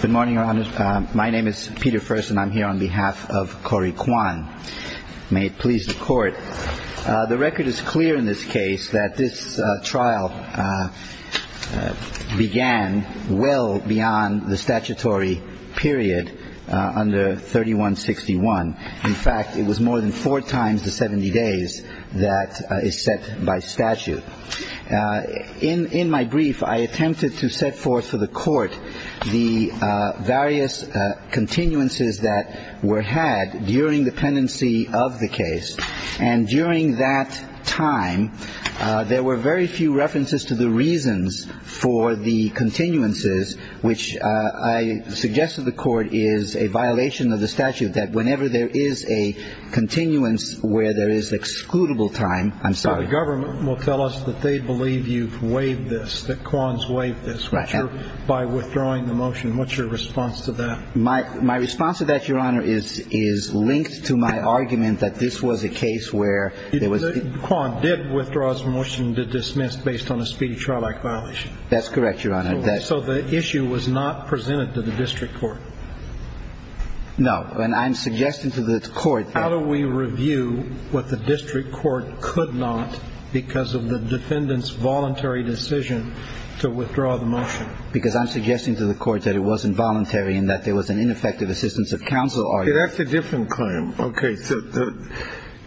Good morning, Your Honor. My name is Peter Furst and I'm here on behalf of Corey Quan. May it please the Court. The record is clear in this case that this trial began well beyond the statutory period under 3161. In fact, it was more than four times the 70 days that is set by statute. In my brief, I attempted to set forth to the Court the various continuances that were had during the pendency of the case. And during that time, there were very few references to the reasons for the continuances, which I suggest to the Court is a violation of the statute that whenever there is a continuance where there is excludable time. I'm sorry. So the government will tell us that they believe you've waived this, that Quan's waived this by withdrawing the motion. What's your response to that? My response to that, Your Honor, is linked to my argument that this was a case where there was – Quan did withdraw his motion to dismiss based on a speedy trial-like violation. That's correct, Your Honor. So the issue was not presented to the District Court? No. And I'm suggesting to the Court – How do we review what the District Court could not because of the defendant's voluntary decision to withdraw the motion? Because I'm suggesting to the Court that it wasn't voluntary and that there was an ineffective assistance of counsel argument. That's a different claim. Okay. So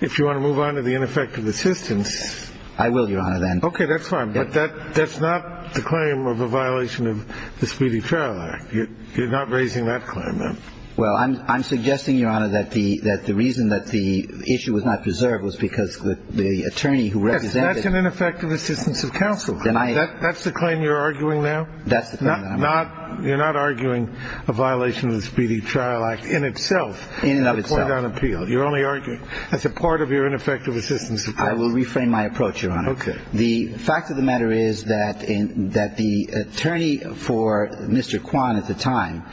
if you want to move on to the ineffective assistance – I will, Your Honor, then. Okay. That's fine. But that's not the claim of a violation of the Speedy Trial Act. You're not raising that claim, then. Well, I'm suggesting, Your Honor, that the reason that the issue was not preserved was because the attorney who represented – Yes. That's an ineffective assistance of counsel. Then I – That's the claim you're arguing now? That's the claim that I'm arguing. You're not arguing a violation of the Speedy Trial Act in itself? In and of itself. The court on appeal. You're only arguing – that's a part of your ineffective assistance of counsel. I will reframe my approach, Your Honor. Okay. The fact of the matter is that the attorney for Mr. Kwan at the time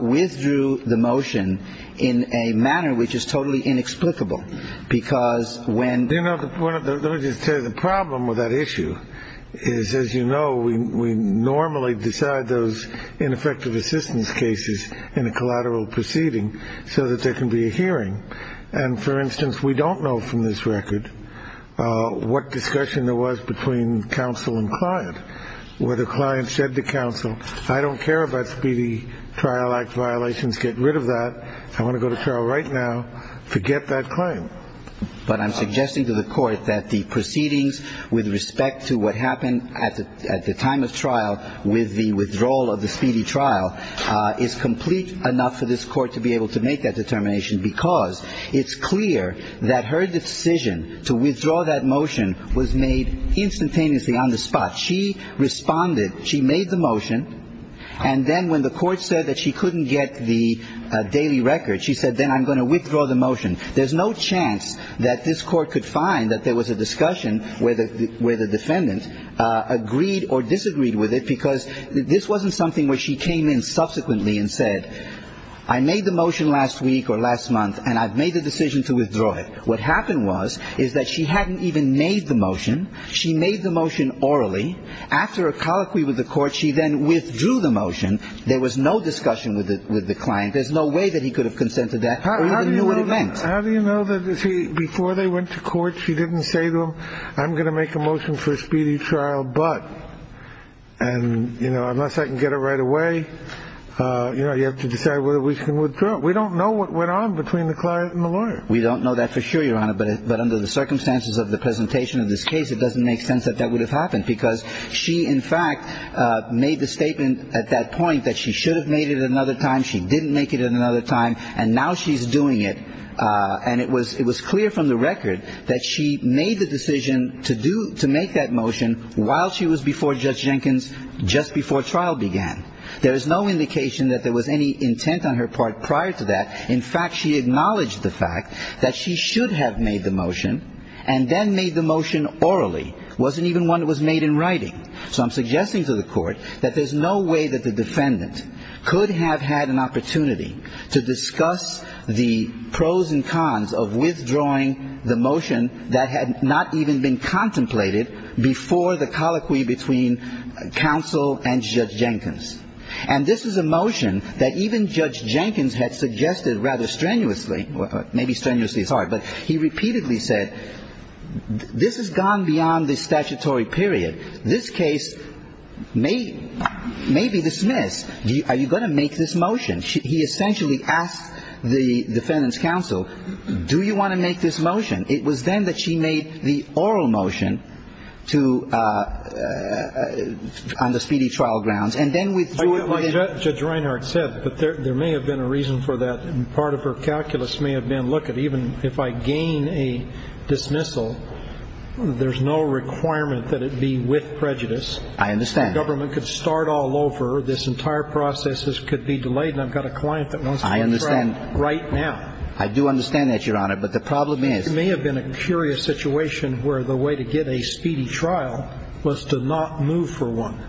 withdrew the motion in a manner which is totally inexplicable because when – You know, let me just tell you, the problem with that issue is, as you know, we normally decide those ineffective assistance cases in a collateral proceeding so that there can be a hearing. And for instance, we don't know from this record what discussion there was between counsel and client. Whether client said to counsel, I don't care about Speedy Trial Act violations. Get rid of that. I want to go to trial right now. Forget that claim. But I'm suggesting to the court that the proceedings with respect to what happened at the time of trial with the withdrawal of the Speedy trial is complete enough for this court to be able to make that determination because it's clear that her decision to withdraw that motion was made instantaneously on the spot. She responded. She made the motion. And then when the court said that she couldn't get the daily record, she said, then I'm going to withdraw the motion. There's no chance that this court could find that there was a discussion where the defendant agreed or disagreed with it because this wasn't something where she came in subsequently and said, I made the motion last week or last month, and I've made the decision to withdraw it. What happened was, is that she hadn't even made the motion. She made the motion orally. After a colloquy with the court, she then withdrew the motion. There was no discussion with the client. There's no way that he could have consented to that or even knew what it meant. How do you know that before they went to court, she didn't say to him, I'm going to make a motion for Speedy trial. But and, you know, unless I can get it right away, you know, you have to decide whether we can withdraw. We don't know what went on between the client and the lawyer. We don't know that for sure, Your Honor. But but under the circumstances of the presentation of this case, it doesn't make sense that that would have happened because she, in fact, made the statement at that point that she should have made it another time. She didn't make it another time. And now she's doing it. And it was it was clear from the record that she made the decision to do to make that motion while she was before Judge Jenkins, just before trial began. There is no indication that there was any intent on her part prior to that. In fact, she acknowledged the fact that she should have made the motion and then made the motion orally. Wasn't even one that was made in writing. So I'm suggesting to the court that there's no way that the defendant could have had an opportunity to discuss the pros and cons of withdrawing the motion that had not even been contemplated before the colloquy between counsel and Judge Jenkins. And this is a motion that even Judge Jenkins had suggested rather strenuously, maybe strenuously is hard. But he repeatedly said this has gone beyond the statutory period. This case may maybe dismiss. Are you going to make this motion? He essentially asked the defendant's counsel, do you want to make this motion? It was then that she made the oral motion to on the speedy trial grounds. And then with Judge Reinhart said, but there may have been a reason for that. And part of her calculus may have been, look, even if I gain a dismissal, there's no requirement that it be with prejudice. I understand. Government could start all over. This entire process could be delayed. And I've got a client that wants. I understand. Right now. I do understand that, Your Honor. But the problem is. It may have been a curious situation where the way to get a speedy trial was to not move for one.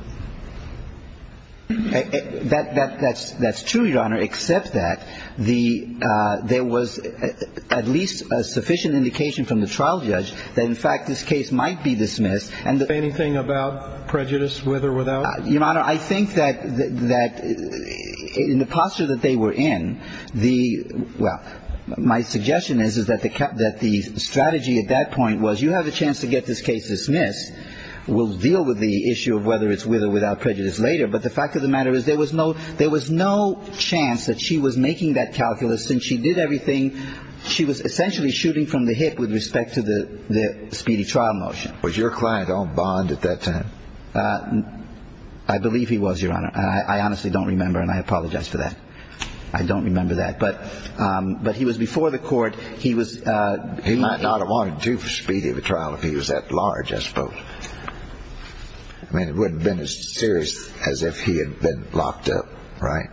That's true, Your Honor, except that there was at least a sufficient indication from the trial judge that, in fact, this case might be dismissed. Anything about prejudice, with or without? Your Honor, I think that in the posture that they were in, the, well, my suggestion is that the strategy at that point was you have a chance to get this case dismissed. We'll deal with the issue of whether it's with or without prejudice later. But the fact of the matter is there was no chance that she was making that calculus since she did everything. She was essentially shooting from the hip with respect to the speedy trial motion. Was your client on bond at that time? I believe he was, Your Honor. I honestly don't remember. And I apologize for that. I don't remember that. But he was before the court. He might not have wanted two for speedy of a trial if he was that large, I suppose. I mean, it wouldn't have been as serious as if he had been locked up, right?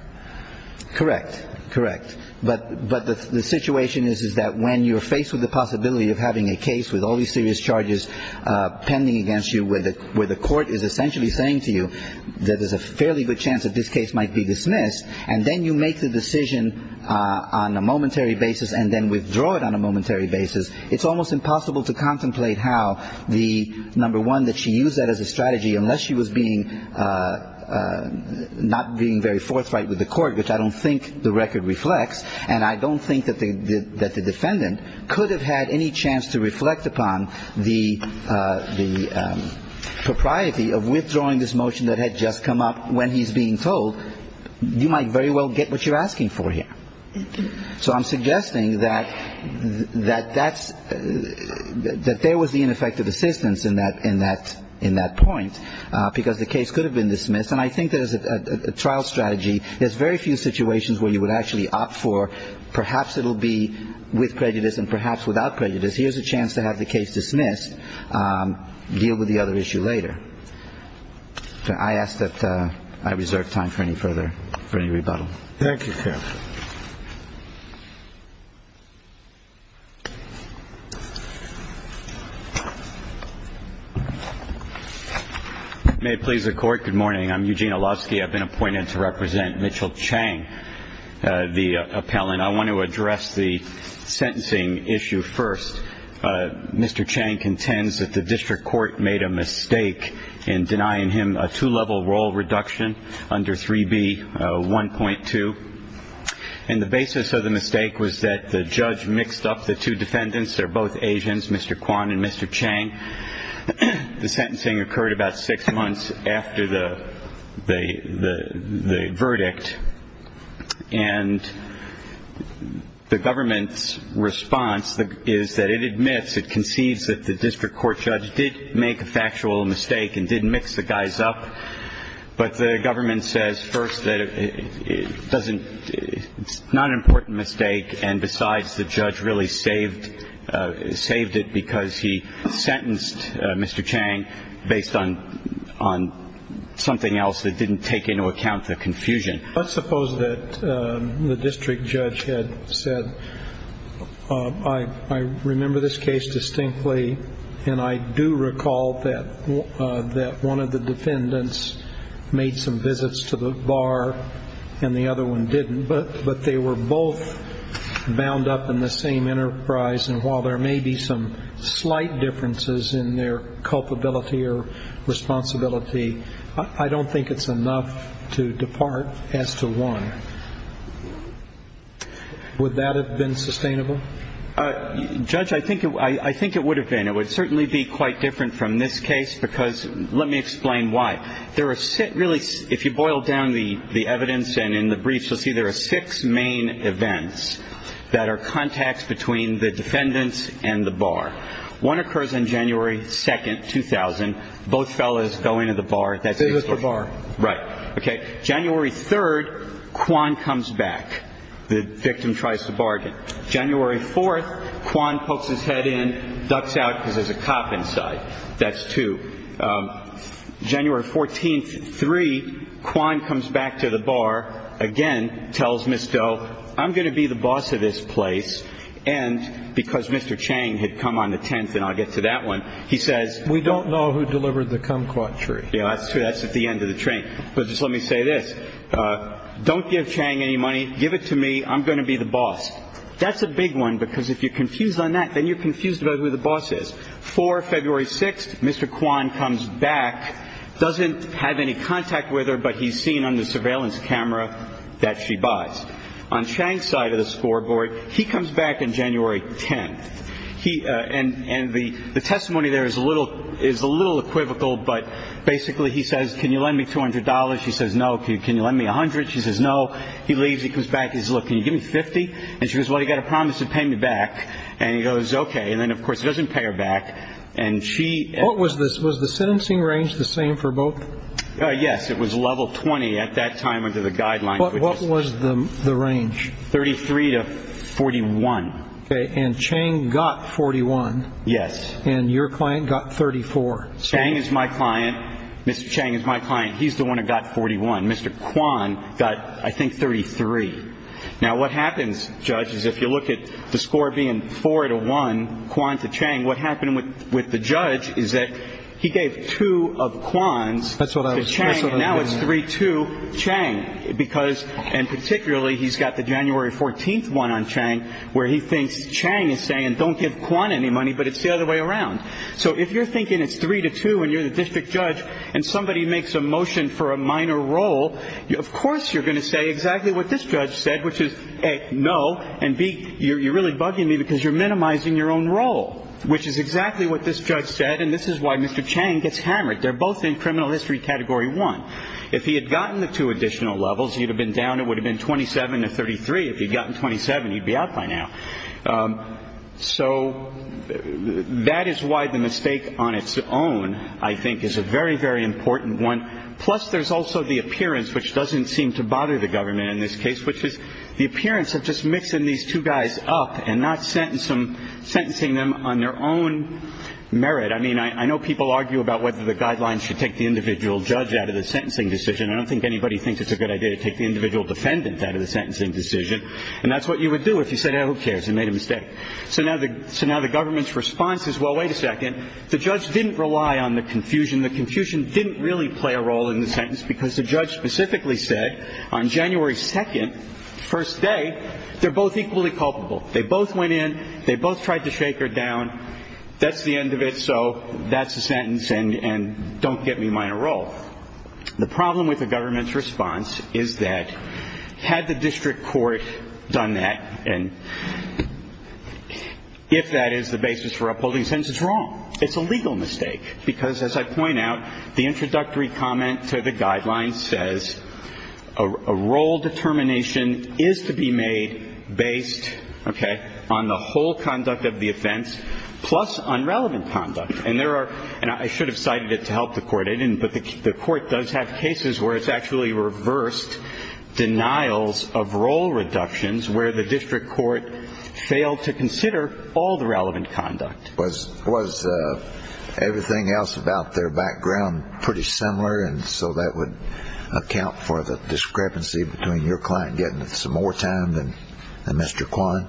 Correct. Correct. But the situation is that when you're faced with the possibility of having a case with all these serious charges pending against you, where the court is essentially saying to you that there's a fairly good chance that this case might be dismissed, and then you make the decision on a momentary basis and then withdraw it on a momentary basis, it's almost impossible to contemplate how the, number one, that she used that as a strategy unless she was being not being very forthright with the court, which I don't think the record reflects. And I don't think that the defendant could have had any chance to reflect upon the propriety of withdrawing this motion that had just come up when he's being told. So you might very well get what you're asking for here. So I'm suggesting that there was the ineffective assistance in that point because the case could have been dismissed. And I think there's a trial strategy. There's very few situations where you would actually opt for perhaps it will be with prejudice and perhaps without prejudice. Here's a chance to have the case dismissed, deal with the other issue later. I ask that I reserve time for any further, for any rebuttal. Thank you, sir. May it please the Court. Good morning. I'm Eugene Olowski. I've been appointed to represent Mitchell Chang, the appellant. I want to address the sentencing issue first. Mr. Chang contends that the district court made a mistake in denying him a two-level role reduction under 3B1.2. And the basis of the mistake was that the judge mixed up the two defendants. They're both Asians, Mr. Kwan and Mr. Chang. The sentencing occurred about six months after the verdict. And the government's response is that it admits, it concedes that the district court judge did make a factual mistake and did mix the guys up. But the government says first that it's not an important mistake, and besides the judge really saved it because he sentenced Mr. Chang based on something else that didn't take into account the confusion. Let's suppose that the district judge had said, I remember this case distinctly, and I do recall that one of the defendants made some visits to the bar and the other one didn't, but they were both bound up in the same enterprise, and while there may be some slight differences in their culpability or responsibility, I don't think it's enough to depart as to why. Would that have been sustainable? Judge, I think it would have been. It would certainly be quite different from this case because let me explain why. There are really, if you boil down the evidence and in the briefs, you'll see there are six main events that are contacts between the defendants and the bar. One occurs on January 2, 2000. Both fellows go into the bar. Visit the bar. Right. Okay. January 3, Kwan comes back. The victim tries to bargain. January 4, Kwan pokes his head in, ducks out because there's a cop inside. That's two. January 14, 3, Kwan comes back to the bar, again tells Ms. Doe, I'm going to be the boss of this place, and because Mr. Chang had come on the 10th, and I'll get to that one, he says, we don't know who delivered the kumquat tree. Yeah, that's true. That's at the end of the train. But just let me say this. Don't give Chang any money. Give it to me. I'm going to be the boss. That's a big one because if you're confused on that, then you're confused about who the boss is. February 6, Mr. Kwan comes back, doesn't have any contact with her, but he's seen on the surveillance camera that she buys. On Chang's side of the scoreboard, he comes back on January 10. And the testimony there is a little equivocal, but basically he says, can you lend me $200? She says, no. Can you lend me $100? She says, no. He leaves. He comes back. He says, look, can you give me $50? And she goes, well, you've got to promise to pay me back. And he goes, okay. And then, of course, he doesn't pay her back. And she ---- Was the sentencing range the same for both? Yes, it was level 20 at that time under the guidelines. What was the range? 33 to 41. Okay. And Chang got 41. Yes. And your client got 34. Chang is my client. Mr. Chang is my client. He's the one who got 41. Mr. Kwan got, I think, 33. Now, what happens, judges, if you look at the score being 4 to 1, Kwan to Chang, what happened with the judge is that he gave two of Kwan's to Chang, and now it's 3 to Chang. And particularly, he's got the January 14th one on Chang where he thinks Chang is saying, don't give Kwan any money, but it's the other way around. So if you're thinking it's 3 to 2 and you're the district judge and somebody makes a motion for a minor role, of course you're going to say exactly what this judge said, which is, A, no, and, B, you're really bugging me because you're minimizing your own role, which is exactly what this judge said, and this is why Mr. Chang gets hammered. They're both in criminal history category one. If he had gotten the two additional levels, he would have been down, it would have been 27 to 33. If he had gotten 27, he'd be out by now. So that is why the mistake on its own, I think, is a very, very important one. Plus, there's also the appearance, which doesn't seem to bother the government in this case, which is the appearance of just mixing these two guys up and not sentencing them on their own merit. I mean, I know people argue about whether the guidelines should take the individual judge out of the sentencing decision. I don't think anybody thinks it's a good idea to take the individual defendant out of the sentencing decision, and that's what you would do if you said, oh, who cares, you made a mistake. So now the government's response is, well, wait a second. The judge didn't rely on the confusion. The confusion didn't really play a role in the sentence because the judge specifically said on January 2nd, first day, they're both equally culpable. They both went in. They both tried to shake her down. That's the end of it, so that's the sentence, and don't get me minor role. The problem with the government's response is that had the district court done that, and if that is the basis for upholding the sentence, it's wrong. It's a legal mistake because, as I point out, the introductory comment to the guidelines says, a role determination is to be made based, okay, on the whole conduct of the offense, plus on relevant conduct, and there are, and I should have cited it to help the court, I didn't, but the court does have cases where it's actually reversed denials of role reductions where the district court failed to consider all the relevant conduct. Was everything else about their background pretty similar, and so that would account for the discrepancy between your client getting some more time than Mr. Kwan?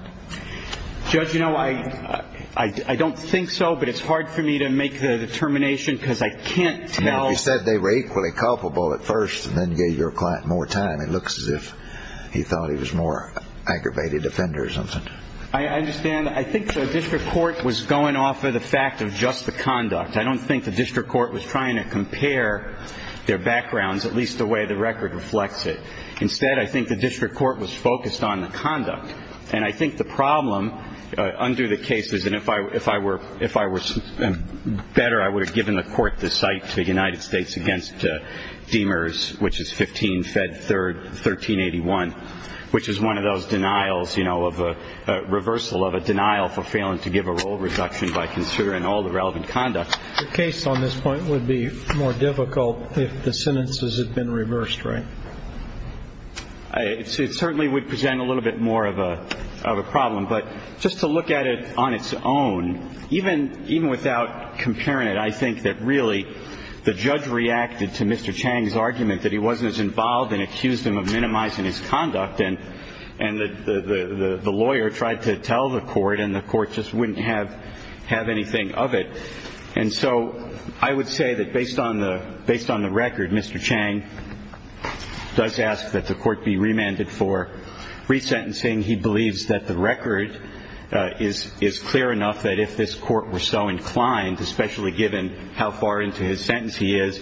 Judge, you know, I don't think so, but it's hard for me to make the determination because I can't tell. You said they were equally culpable at first and then gave your client more time. It looks as if he thought he was a more aggravated offender or something. I understand. I think the district court was going off of the fact of just the conduct. I don't think the district court was trying to compare their backgrounds, at least the way the record reflects it. Instead, I think the district court was focused on the conduct, and I think the problem under the case is that if I were better, I would have given the court the cite to the United States against Demers, which is 15 Fed 1381, which is one of those denials, you know, of a reversal of a denial for failing to give a role reduction by considering all the relevant conduct. The case on this point would be more difficult if the sentences had been reversed, right? It certainly would present a little bit more of a problem. But just to look at it on its own, even without comparing it, I think that really the judge reacted to Mr. Chang's argument that he wasn't as involved and accused him of minimizing his conduct, and the lawyer tried to tell the court and the court just wouldn't have anything of it. And so I would say that based on the record, Mr. Chang does ask that the court be remanded for resentencing. He believes that the record is clear enough that if this court were so inclined, especially given how far into his sentence he is,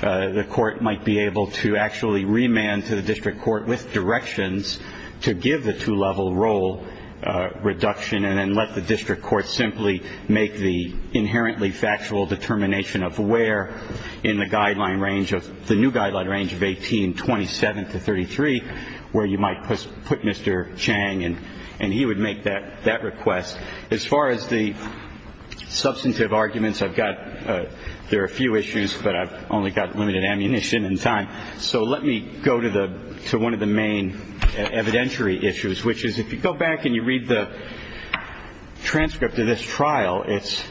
the court might be able to actually remand to the district court with directions to give the two-level role reduction and then let the district court simply make the inherently factual determination of where in the guideline range of the new guideline range of 1827 to 33 where you might put Mr. Chang, and he would make that request. As far as the substantive arguments I've got, there are a few issues, but I've only got limited ammunition and time. So let me go to one of the main evidentiary issues, which is if you go back and you read the transcript of this trial, it's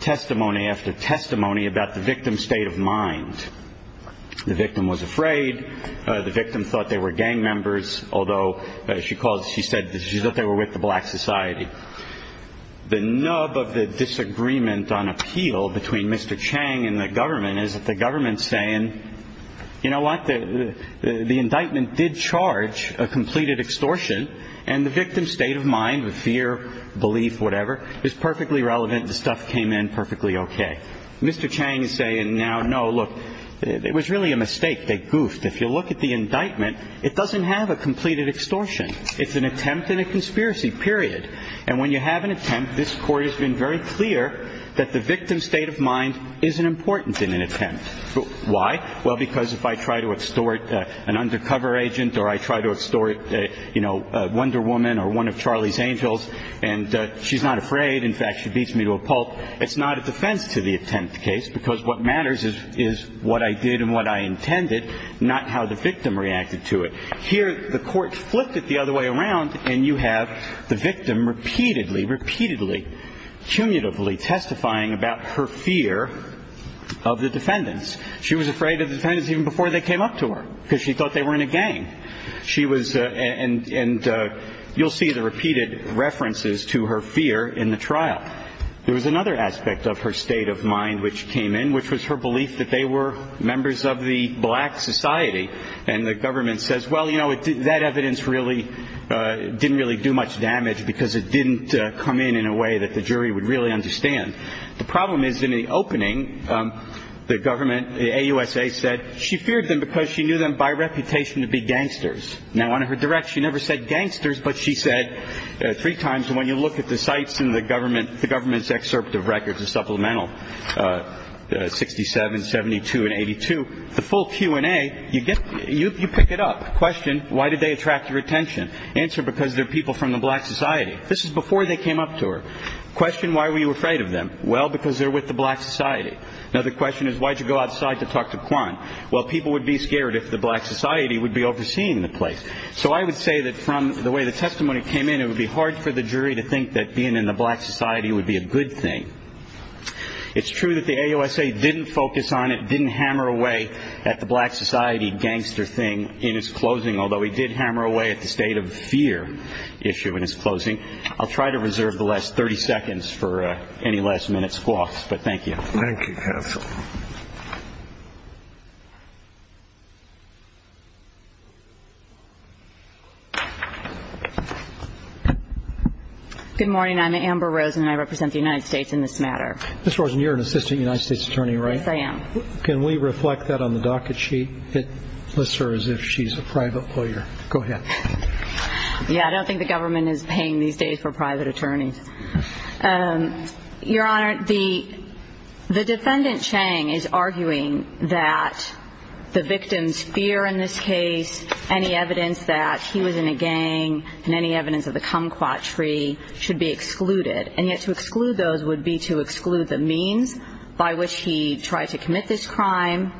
testimony after testimony about the victim's state of mind. The victim was afraid. The victim thought they were gang members, although she said that they were with the black society. The nub of the disagreement on appeal between Mr. Chang and the government is that the government is saying, you know what, the indictment did charge a completed extortion, and the victim's state of mind of fear, belief, whatever, is perfectly relevant. The stuff came in perfectly okay. Mr. Chang is saying now, no, look, it was really a mistake. They goofed. If you look at the indictment, it doesn't have a completed extortion. It's an attempt and a conspiracy, period. And when you have an attempt, this Court has been very clear that the victim's state of mind isn't important in an attempt. Why? Well, because if I try to extort an undercover agent or I try to extort, you know, Wonder Woman or one of Charlie's Angels, and she's not afraid. In fact, she beats me to a pulp. It's not a defense to the attempt case because what matters is what I did and what I intended, not how the victim reacted to it. Here the Court flipped it the other way around, and you have the victim repeatedly, repeatedly, cumulatively testifying about her fear of the defendants. She was afraid of the defendants even before they came up to her because she thought they were in a gang. She was and you'll see the repeated references to her fear in the trial. There was another aspect of her state of mind which came in, which was her belief that they were members of the black society, and the government says, well, you know, that evidence really didn't really do much damage because it didn't come in in a way that the jury would really understand. The problem is in the opening, the government, the AUSA, said she feared them because she knew them by reputation to be gangsters. Now, on her direct, she never said gangsters, but she said three times, and when you look at the sites in the government, the government's excerpt of records, 67, 72, and 82, the full Q&A, you pick it up. Question, why did they attract your attention? Answer, because they're people from the black society. This is before they came up to her. Question, why were you afraid of them? Well, because they're with the black society. Another question is, why did you go outside to talk to Quan? Well, people would be scared if the black society would be overseeing the place. So I would say that from the way the testimony came in, it would be hard for the jury to think that being in the black society would be a good thing. It's true that the AUSA didn't focus on it, didn't hammer away at the black society gangster thing in its closing, although it did hammer away at the state of fear issue in its closing. I'll try to reserve the last 30 seconds for any last-minute squawks, but thank you. Thank you, counsel. Good morning. I'm Amber Rosen, and I represent the United States in this matter. Ms. Rosen, you're an assistant United States attorney, right? Yes, I am. Can we reflect that on the docket sheet? It lists her as if she's a private lawyer. Go ahead. Yeah, I don't think the government is paying these days for private attorneys. Your Honor, the defendant, Chang, is arguing that the victim's fear in this case, any evidence that he was in a gang and any evidence of the kumquat tree should be excluded. And yet to exclude those would be to exclude the means by which he tried to commit this crime,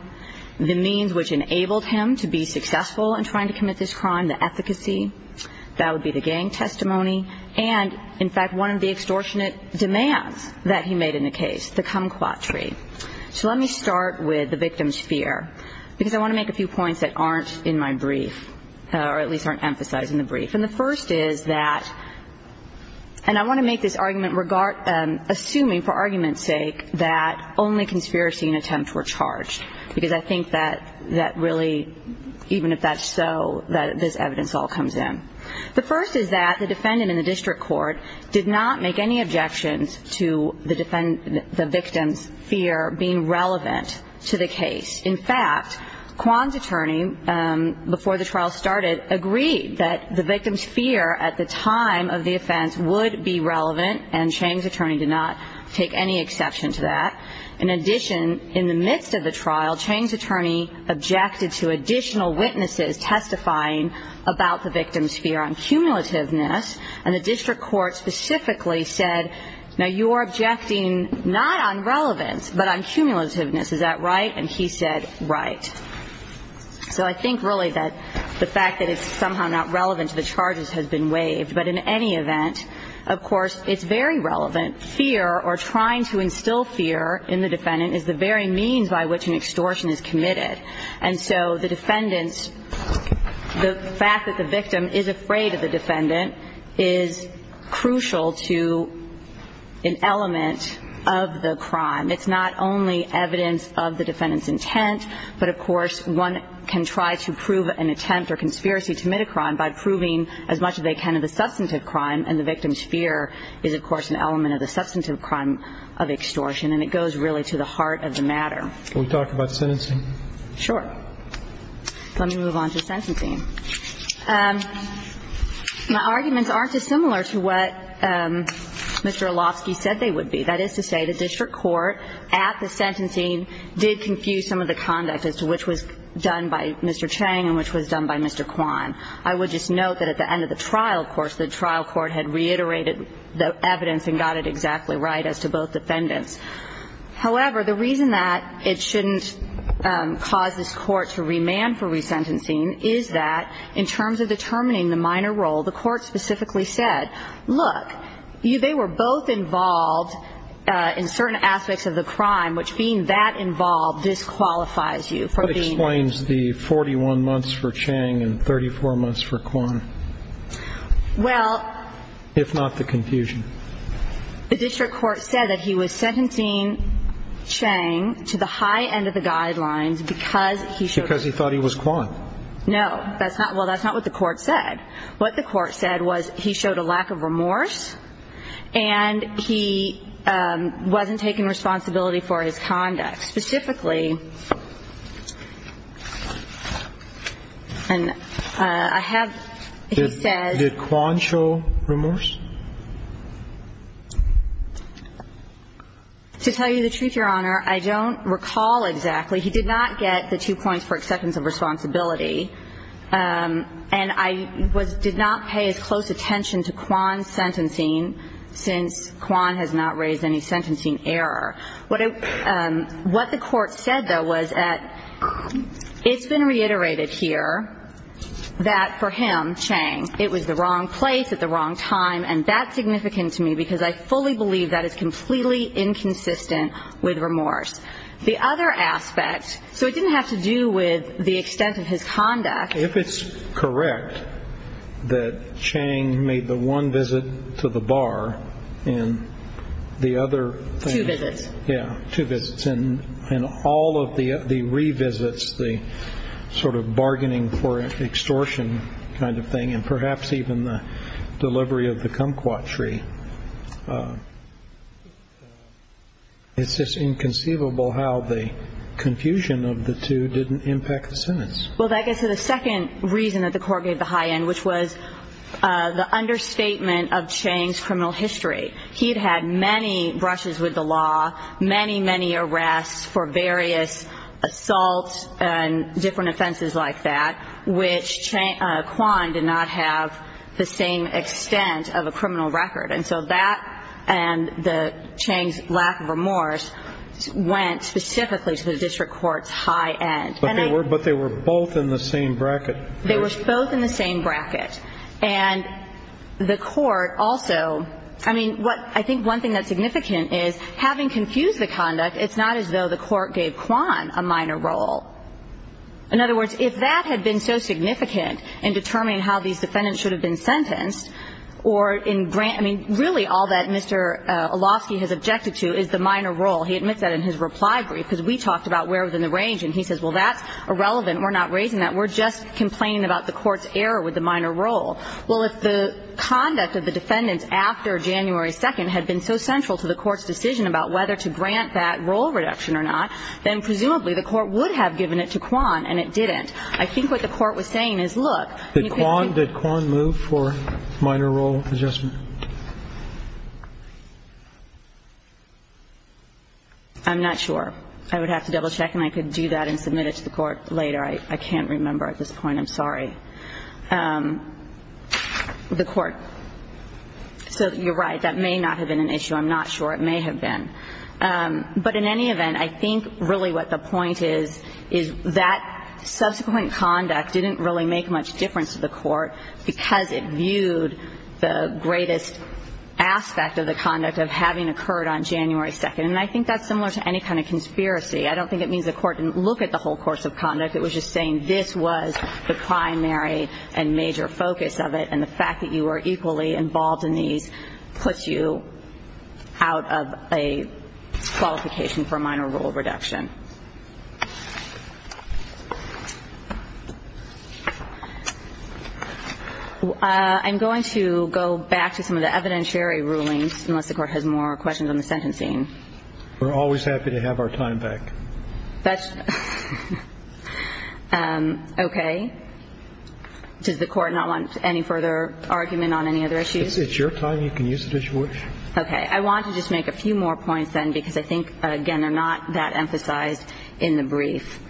the means which enabled him to be successful in trying to commit this crime, the efficacy. That would be the gang testimony. And, in fact, one of the extortionate demands that he made in the case, the kumquat tree. So let me start with the victim's fear, because I want to make a few points that aren't in my brief or at least aren't emphasized in the brief. And the first is that, and I want to make this argument assuming for argument's sake that only conspiracy and attempts were charged, because I think that really even if that's so, this evidence all comes in. The first is that the defendant in the district court did not make any objections to the victim's fear being relevant to the case. In fact, Kwan's attorney, before the trial started, agreed that the victim's fear at the time of the offense would be relevant, and Chang's attorney did not take any exception to that. In addition, in the midst of the trial, Chang's attorney objected to additional witnesses testifying about the victim's fear on cumulativeness, and the district court specifically said, now you are objecting not on relevance but on cumulativeness. Is that right? And he said, right. So I think really that the fact that it's somehow not relevant to the charges has been waived. But in any event, of course, it's very relevant. The second element, fear, or trying to instill fear in the defendant is the very means by which an extortion is committed. And so the defendant's, the fact that the victim is afraid of the defendant is crucial to an element of the crime. It's not only evidence of the defendant's intent, but of course one can try to prove an attempt or conspiracy to commit a crime by proving as much as they can of the substantive crime, and the victim's fear is of course an element of the substantive crime of extortion, and it goes really to the heart of the matter. Can we talk about sentencing? Sure. Let me move on to sentencing. My arguments aren't dissimilar to what Mr. Olofsky said they would be. That is to say the district court at the sentencing did confuse some of the conduct as to which was done by Mr. Chang and which was done by Mr. Kwan. I would just note that at the end of the trial, of course, the trial court had reiterated the evidence and got it exactly right as to both defendants. However, the reason that it shouldn't cause this court to remand for resentencing is that in terms of determining the minor role, the court specifically said, look, they were both involved in certain aspects of the crime, which being that involved disqualifies you from being. Who explains the 41 months for Chang and 34 months for Kwan? Well. If not the confusion. The district court said that he was sentencing Chang to the high end of the guidelines because he showed. Because he thought he was Kwan. No. Well, that's not what the court said. What the court said was he showed a lack of remorse and he wasn't taking responsibility for his conduct. Specifically, I have, he says. Did Kwan show remorse? To tell you the truth, Your Honor, I don't recall exactly. He did not get the two points for acceptance of responsibility. And I did not pay as close attention to Kwan's sentencing since Kwan has not raised any sentencing error. What the court said, though, was that it's been reiterated here that for him, Chang, it was the wrong place at the wrong time, and that's significant to me because I fully believe that is completely inconsistent with remorse. The other aspect, so it didn't have to do with the extent of his conduct. If it's correct that Chang made the one visit to the bar and the other thing. Two visits. Yeah, two visits. And all of the revisits, the sort of bargaining for extortion kind of thing and perhaps even the delivery of the kumquat tree, it's just inconceivable how the confusion of the two didn't impact the sentence. Well, that gets to the second reason that the court gave the high end, which was the understatement of Chang's criminal history. He had had many brushes with the law, many, many arrests for various assaults and different offenses like that, which Kwan did not have the same extent of a criminal record. And so that and Chang's lack of remorse went specifically to the district court's high end. But they were both in the same bracket. They were both in the same bracket. And the court also – I mean, what – I think one thing that's significant is having confused the conduct, it's not as though the court gave Kwan a minor role. In other words, if that had been so significant in determining how these defendants should have been sentenced or in grant – I mean, really all that Mr. Olofsky has objected to is the minor role. He admits that in his reply brief, because we talked about where within the range and he says, well, that's irrelevant. We're not raising that. We're just complaining about the court's error with the minor role. Well, if the conduct of the defendants after January 2nd had been so central to the court's decision about whether to grant that role reduction or not, then presumably the court would have given it to Kwan and it didn't. I think what the court was saying is, look – Did Kwan move for minor role adjustment? I'm not sure. I would have to double check and I could do that and submit it to the court later. I can't remember at this point. I'm sorry. The court. So you're right. That may not have been an issue. I'm not sure. It may have been. But in any event, I think really what the point is, is that subsequent conduct didn't really make much difference to the court because it viewed the greatest aspect of the conduct of having occurred on January 2nd. And I think that's similar to any kind of conspiracy. I don't think it means the court didn't look at the whole course of conduct. It was just saying this was the primary and major focus of it, and the fact that you were equally involved in these puts you out of a qualification for minor role reduction. I'm going to go back to some of the evidentiary rulings, unless the court has more questions on the sentencing. We're always happy to have our time back. That's okay. Does the court not want any further argument on any other issues? It's your time. You can use it as you wish. Okay. I want to just make a few more points then because I think, again, they're not that emphasized in the brief.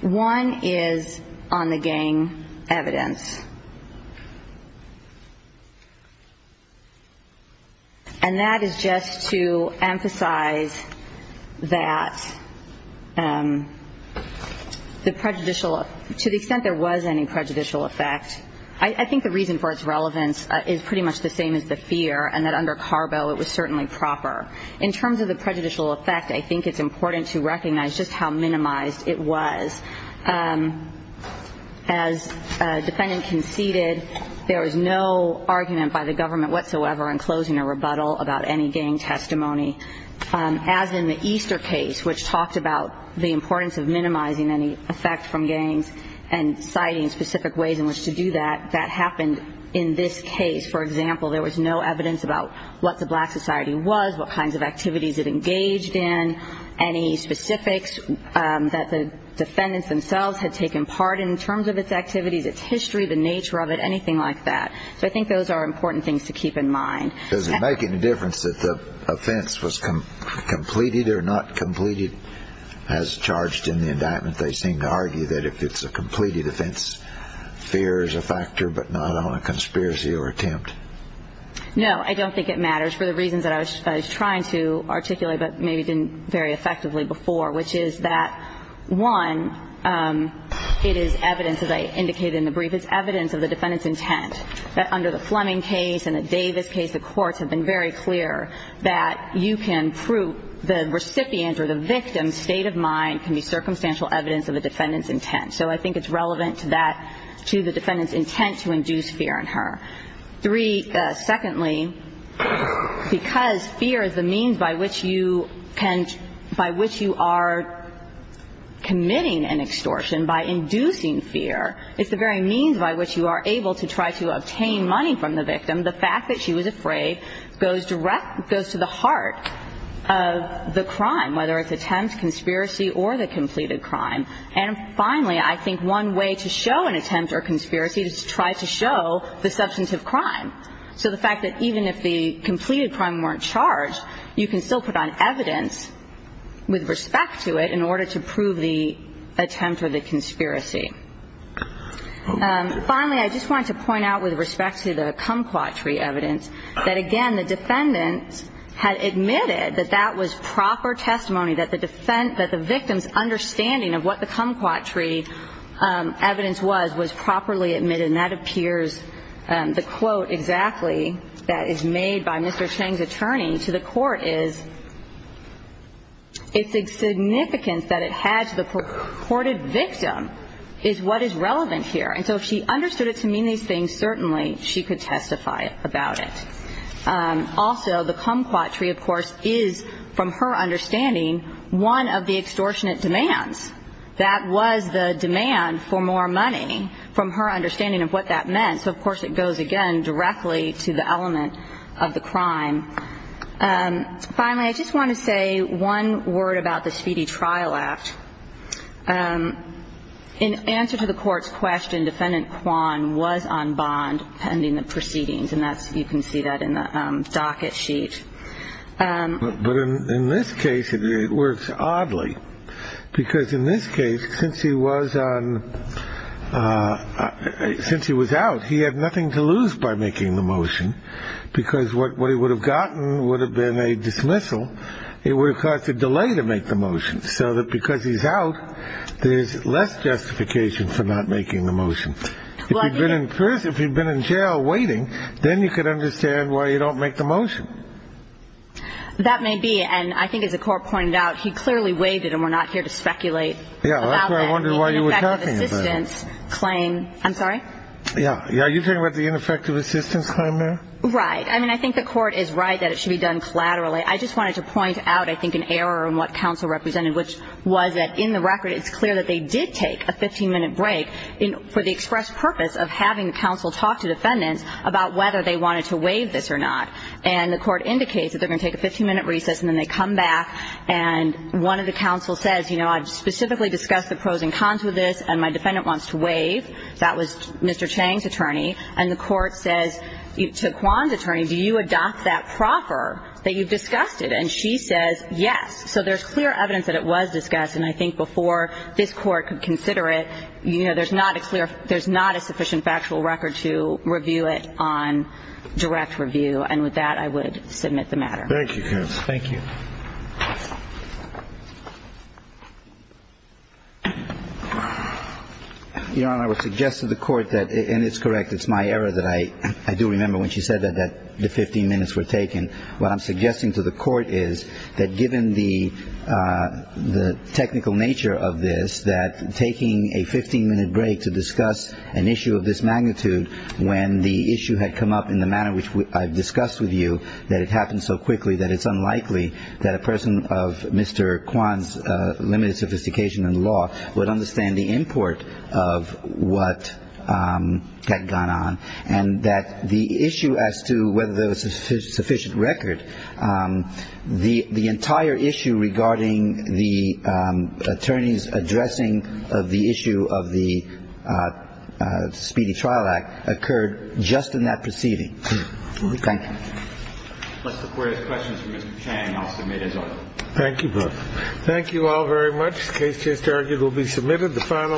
One is on the gang evidence. And that is just to emphasize that the prejudicial to the extent there was any prejudicial effect, I think the reason for its relevance is pretty much the same as the fear and that under Carbo it was certainly proper. In terms of the prejudicial effect, I think it's important to recognize just how minimized it was. As a defendant conceded, there was no argument by the government whatsoever in closing a rebuttal about any gang testimony. As in the Easter case, which talked about the importance of minimizing any effect from gangs and citing specific ways in which to do that, that happened in this case. For example, there was no evidence about what the black society was, what kinds of activities it engaged in, any specifics that the defendants themselves had taken part in in terms of its activities, its history, the nature of it, anything like that. So I think those are important things to keep in mind. Does it make any difference if the offense was completed or not completed as charged in the indictment? They seem to argue that if it's a completed offense, fear is a factor but not on a conspiracy or attempt. No, I don't think it matters for the reasons that I was trying to articulate but it is evidence, as I indicated in the brief, it's evidence of the defendant's intent, that under the Fleming case and the Davis case, the courts have been very clear that you can prove the recipient or the victim's state of mind can be circumstantial evidence of the defendant's intent. So I think it's relevant to that, to the defendant's intent to induce fear in her. Three, secondly, because fear is the means by which you can, by which you are committing an extortion, by inducing fear, it's the very means by which you are able to try to obtain money from the victim, the fact that she was afraid goes direct, goes to the heart of the crime, whether it's attempt, conspiracy or the completed crime. And finally, I think one way to show an attempt or conspiracy is to try to show the substantive crime. So the fact that even if the completed crime weren't charged, you can still put on the contempt of the conspiracy. Finally, I just wanted to point out with respect to the kumquat tree evidence that, again, the defendant had admitted that that was proper testimony, that the defense, that the victim's understanding of what the kumquat tree evidence was, was properly admitted. And that appears, the quote exactly that is made by Mr. Cheng's attorney to the reported victim is what is relevant here. And so if she understood it to mean these things, certainly she could testify about it. Also, the kumquat tree, of course, is, from her understanding, one of the extortionate demands. That was the demand for more money, from her understanding of what that meant. So, of course, it goes, again, directly to the element of the crime. Finally, I just want to say one word about the speedy trial act. In answer to the court's question, defendant Kwan was on bond pending the proceedings. And that's, you can see that in the docket sheet. But in this case, it works oddly. Because in this case, since he was on, since he was out, he had nothing to lose by making the motion. If he had gotten, would have been a dismissal, it would have caused a delay to make the motion. So that because he's out, there's less justification for not making the motion. If he'd been in jail waiting, then you could understand why you don't make the motion. That may be. And I think as the court pointed out, he clearly waived it and we're not here to speculate about that. I'm sorry? Right. I mean, I think the court is right that it should be done collaterally. I just wanted to point out, I think, an error in what counsel represented, which was that in the record, it's clear that they did take a 15-minute break for the express purpose of having the counsel talk to defendants about whether they wanted to waive this or not. And the court indicates that they're going to take a 15-minute recess and then they come back. And one of the counsels says, you know, I've specifically discussed the pros and cons with this, and my defendant wants to waive. That was Mr. Chang's attorney. And the court says to Kwan's attorney, do you adopt that proffer that you've discussed it? And she says yes. So there's clear evidence that it was discussed. And I think before this court could consider it, you know, there's not a clear – there's not a sufficient factual record to review it on direct review. And with that, I would submit the matter. Thank you, counsel. Thank you. Your Honor, I would suggest to the court that – and it's correct. It's my error that I do remember when she said that the 15 minutes were taken. What I'm suggesting to the court is that given the technical nature of this, that taking a 15-minute break to discuss an issue of this magnitude when the issue had come up in the manner which I've discussed with you, that it happened so quickly that it's unlikely that a person of Mr. Kwan's limited sophistication in law would understand the import of what had gone on, and that the issue as to whether there was a sufficient record, the entire issue regarding the attorney's addressing of the issue of the Speedy Trial Act occurred just in that proceeding. Thank you. Unless the Court has questions for Mr. Chang, I'll submit as well. Thank you, both. Thank you all very much. The case just argued will be submitted. The final.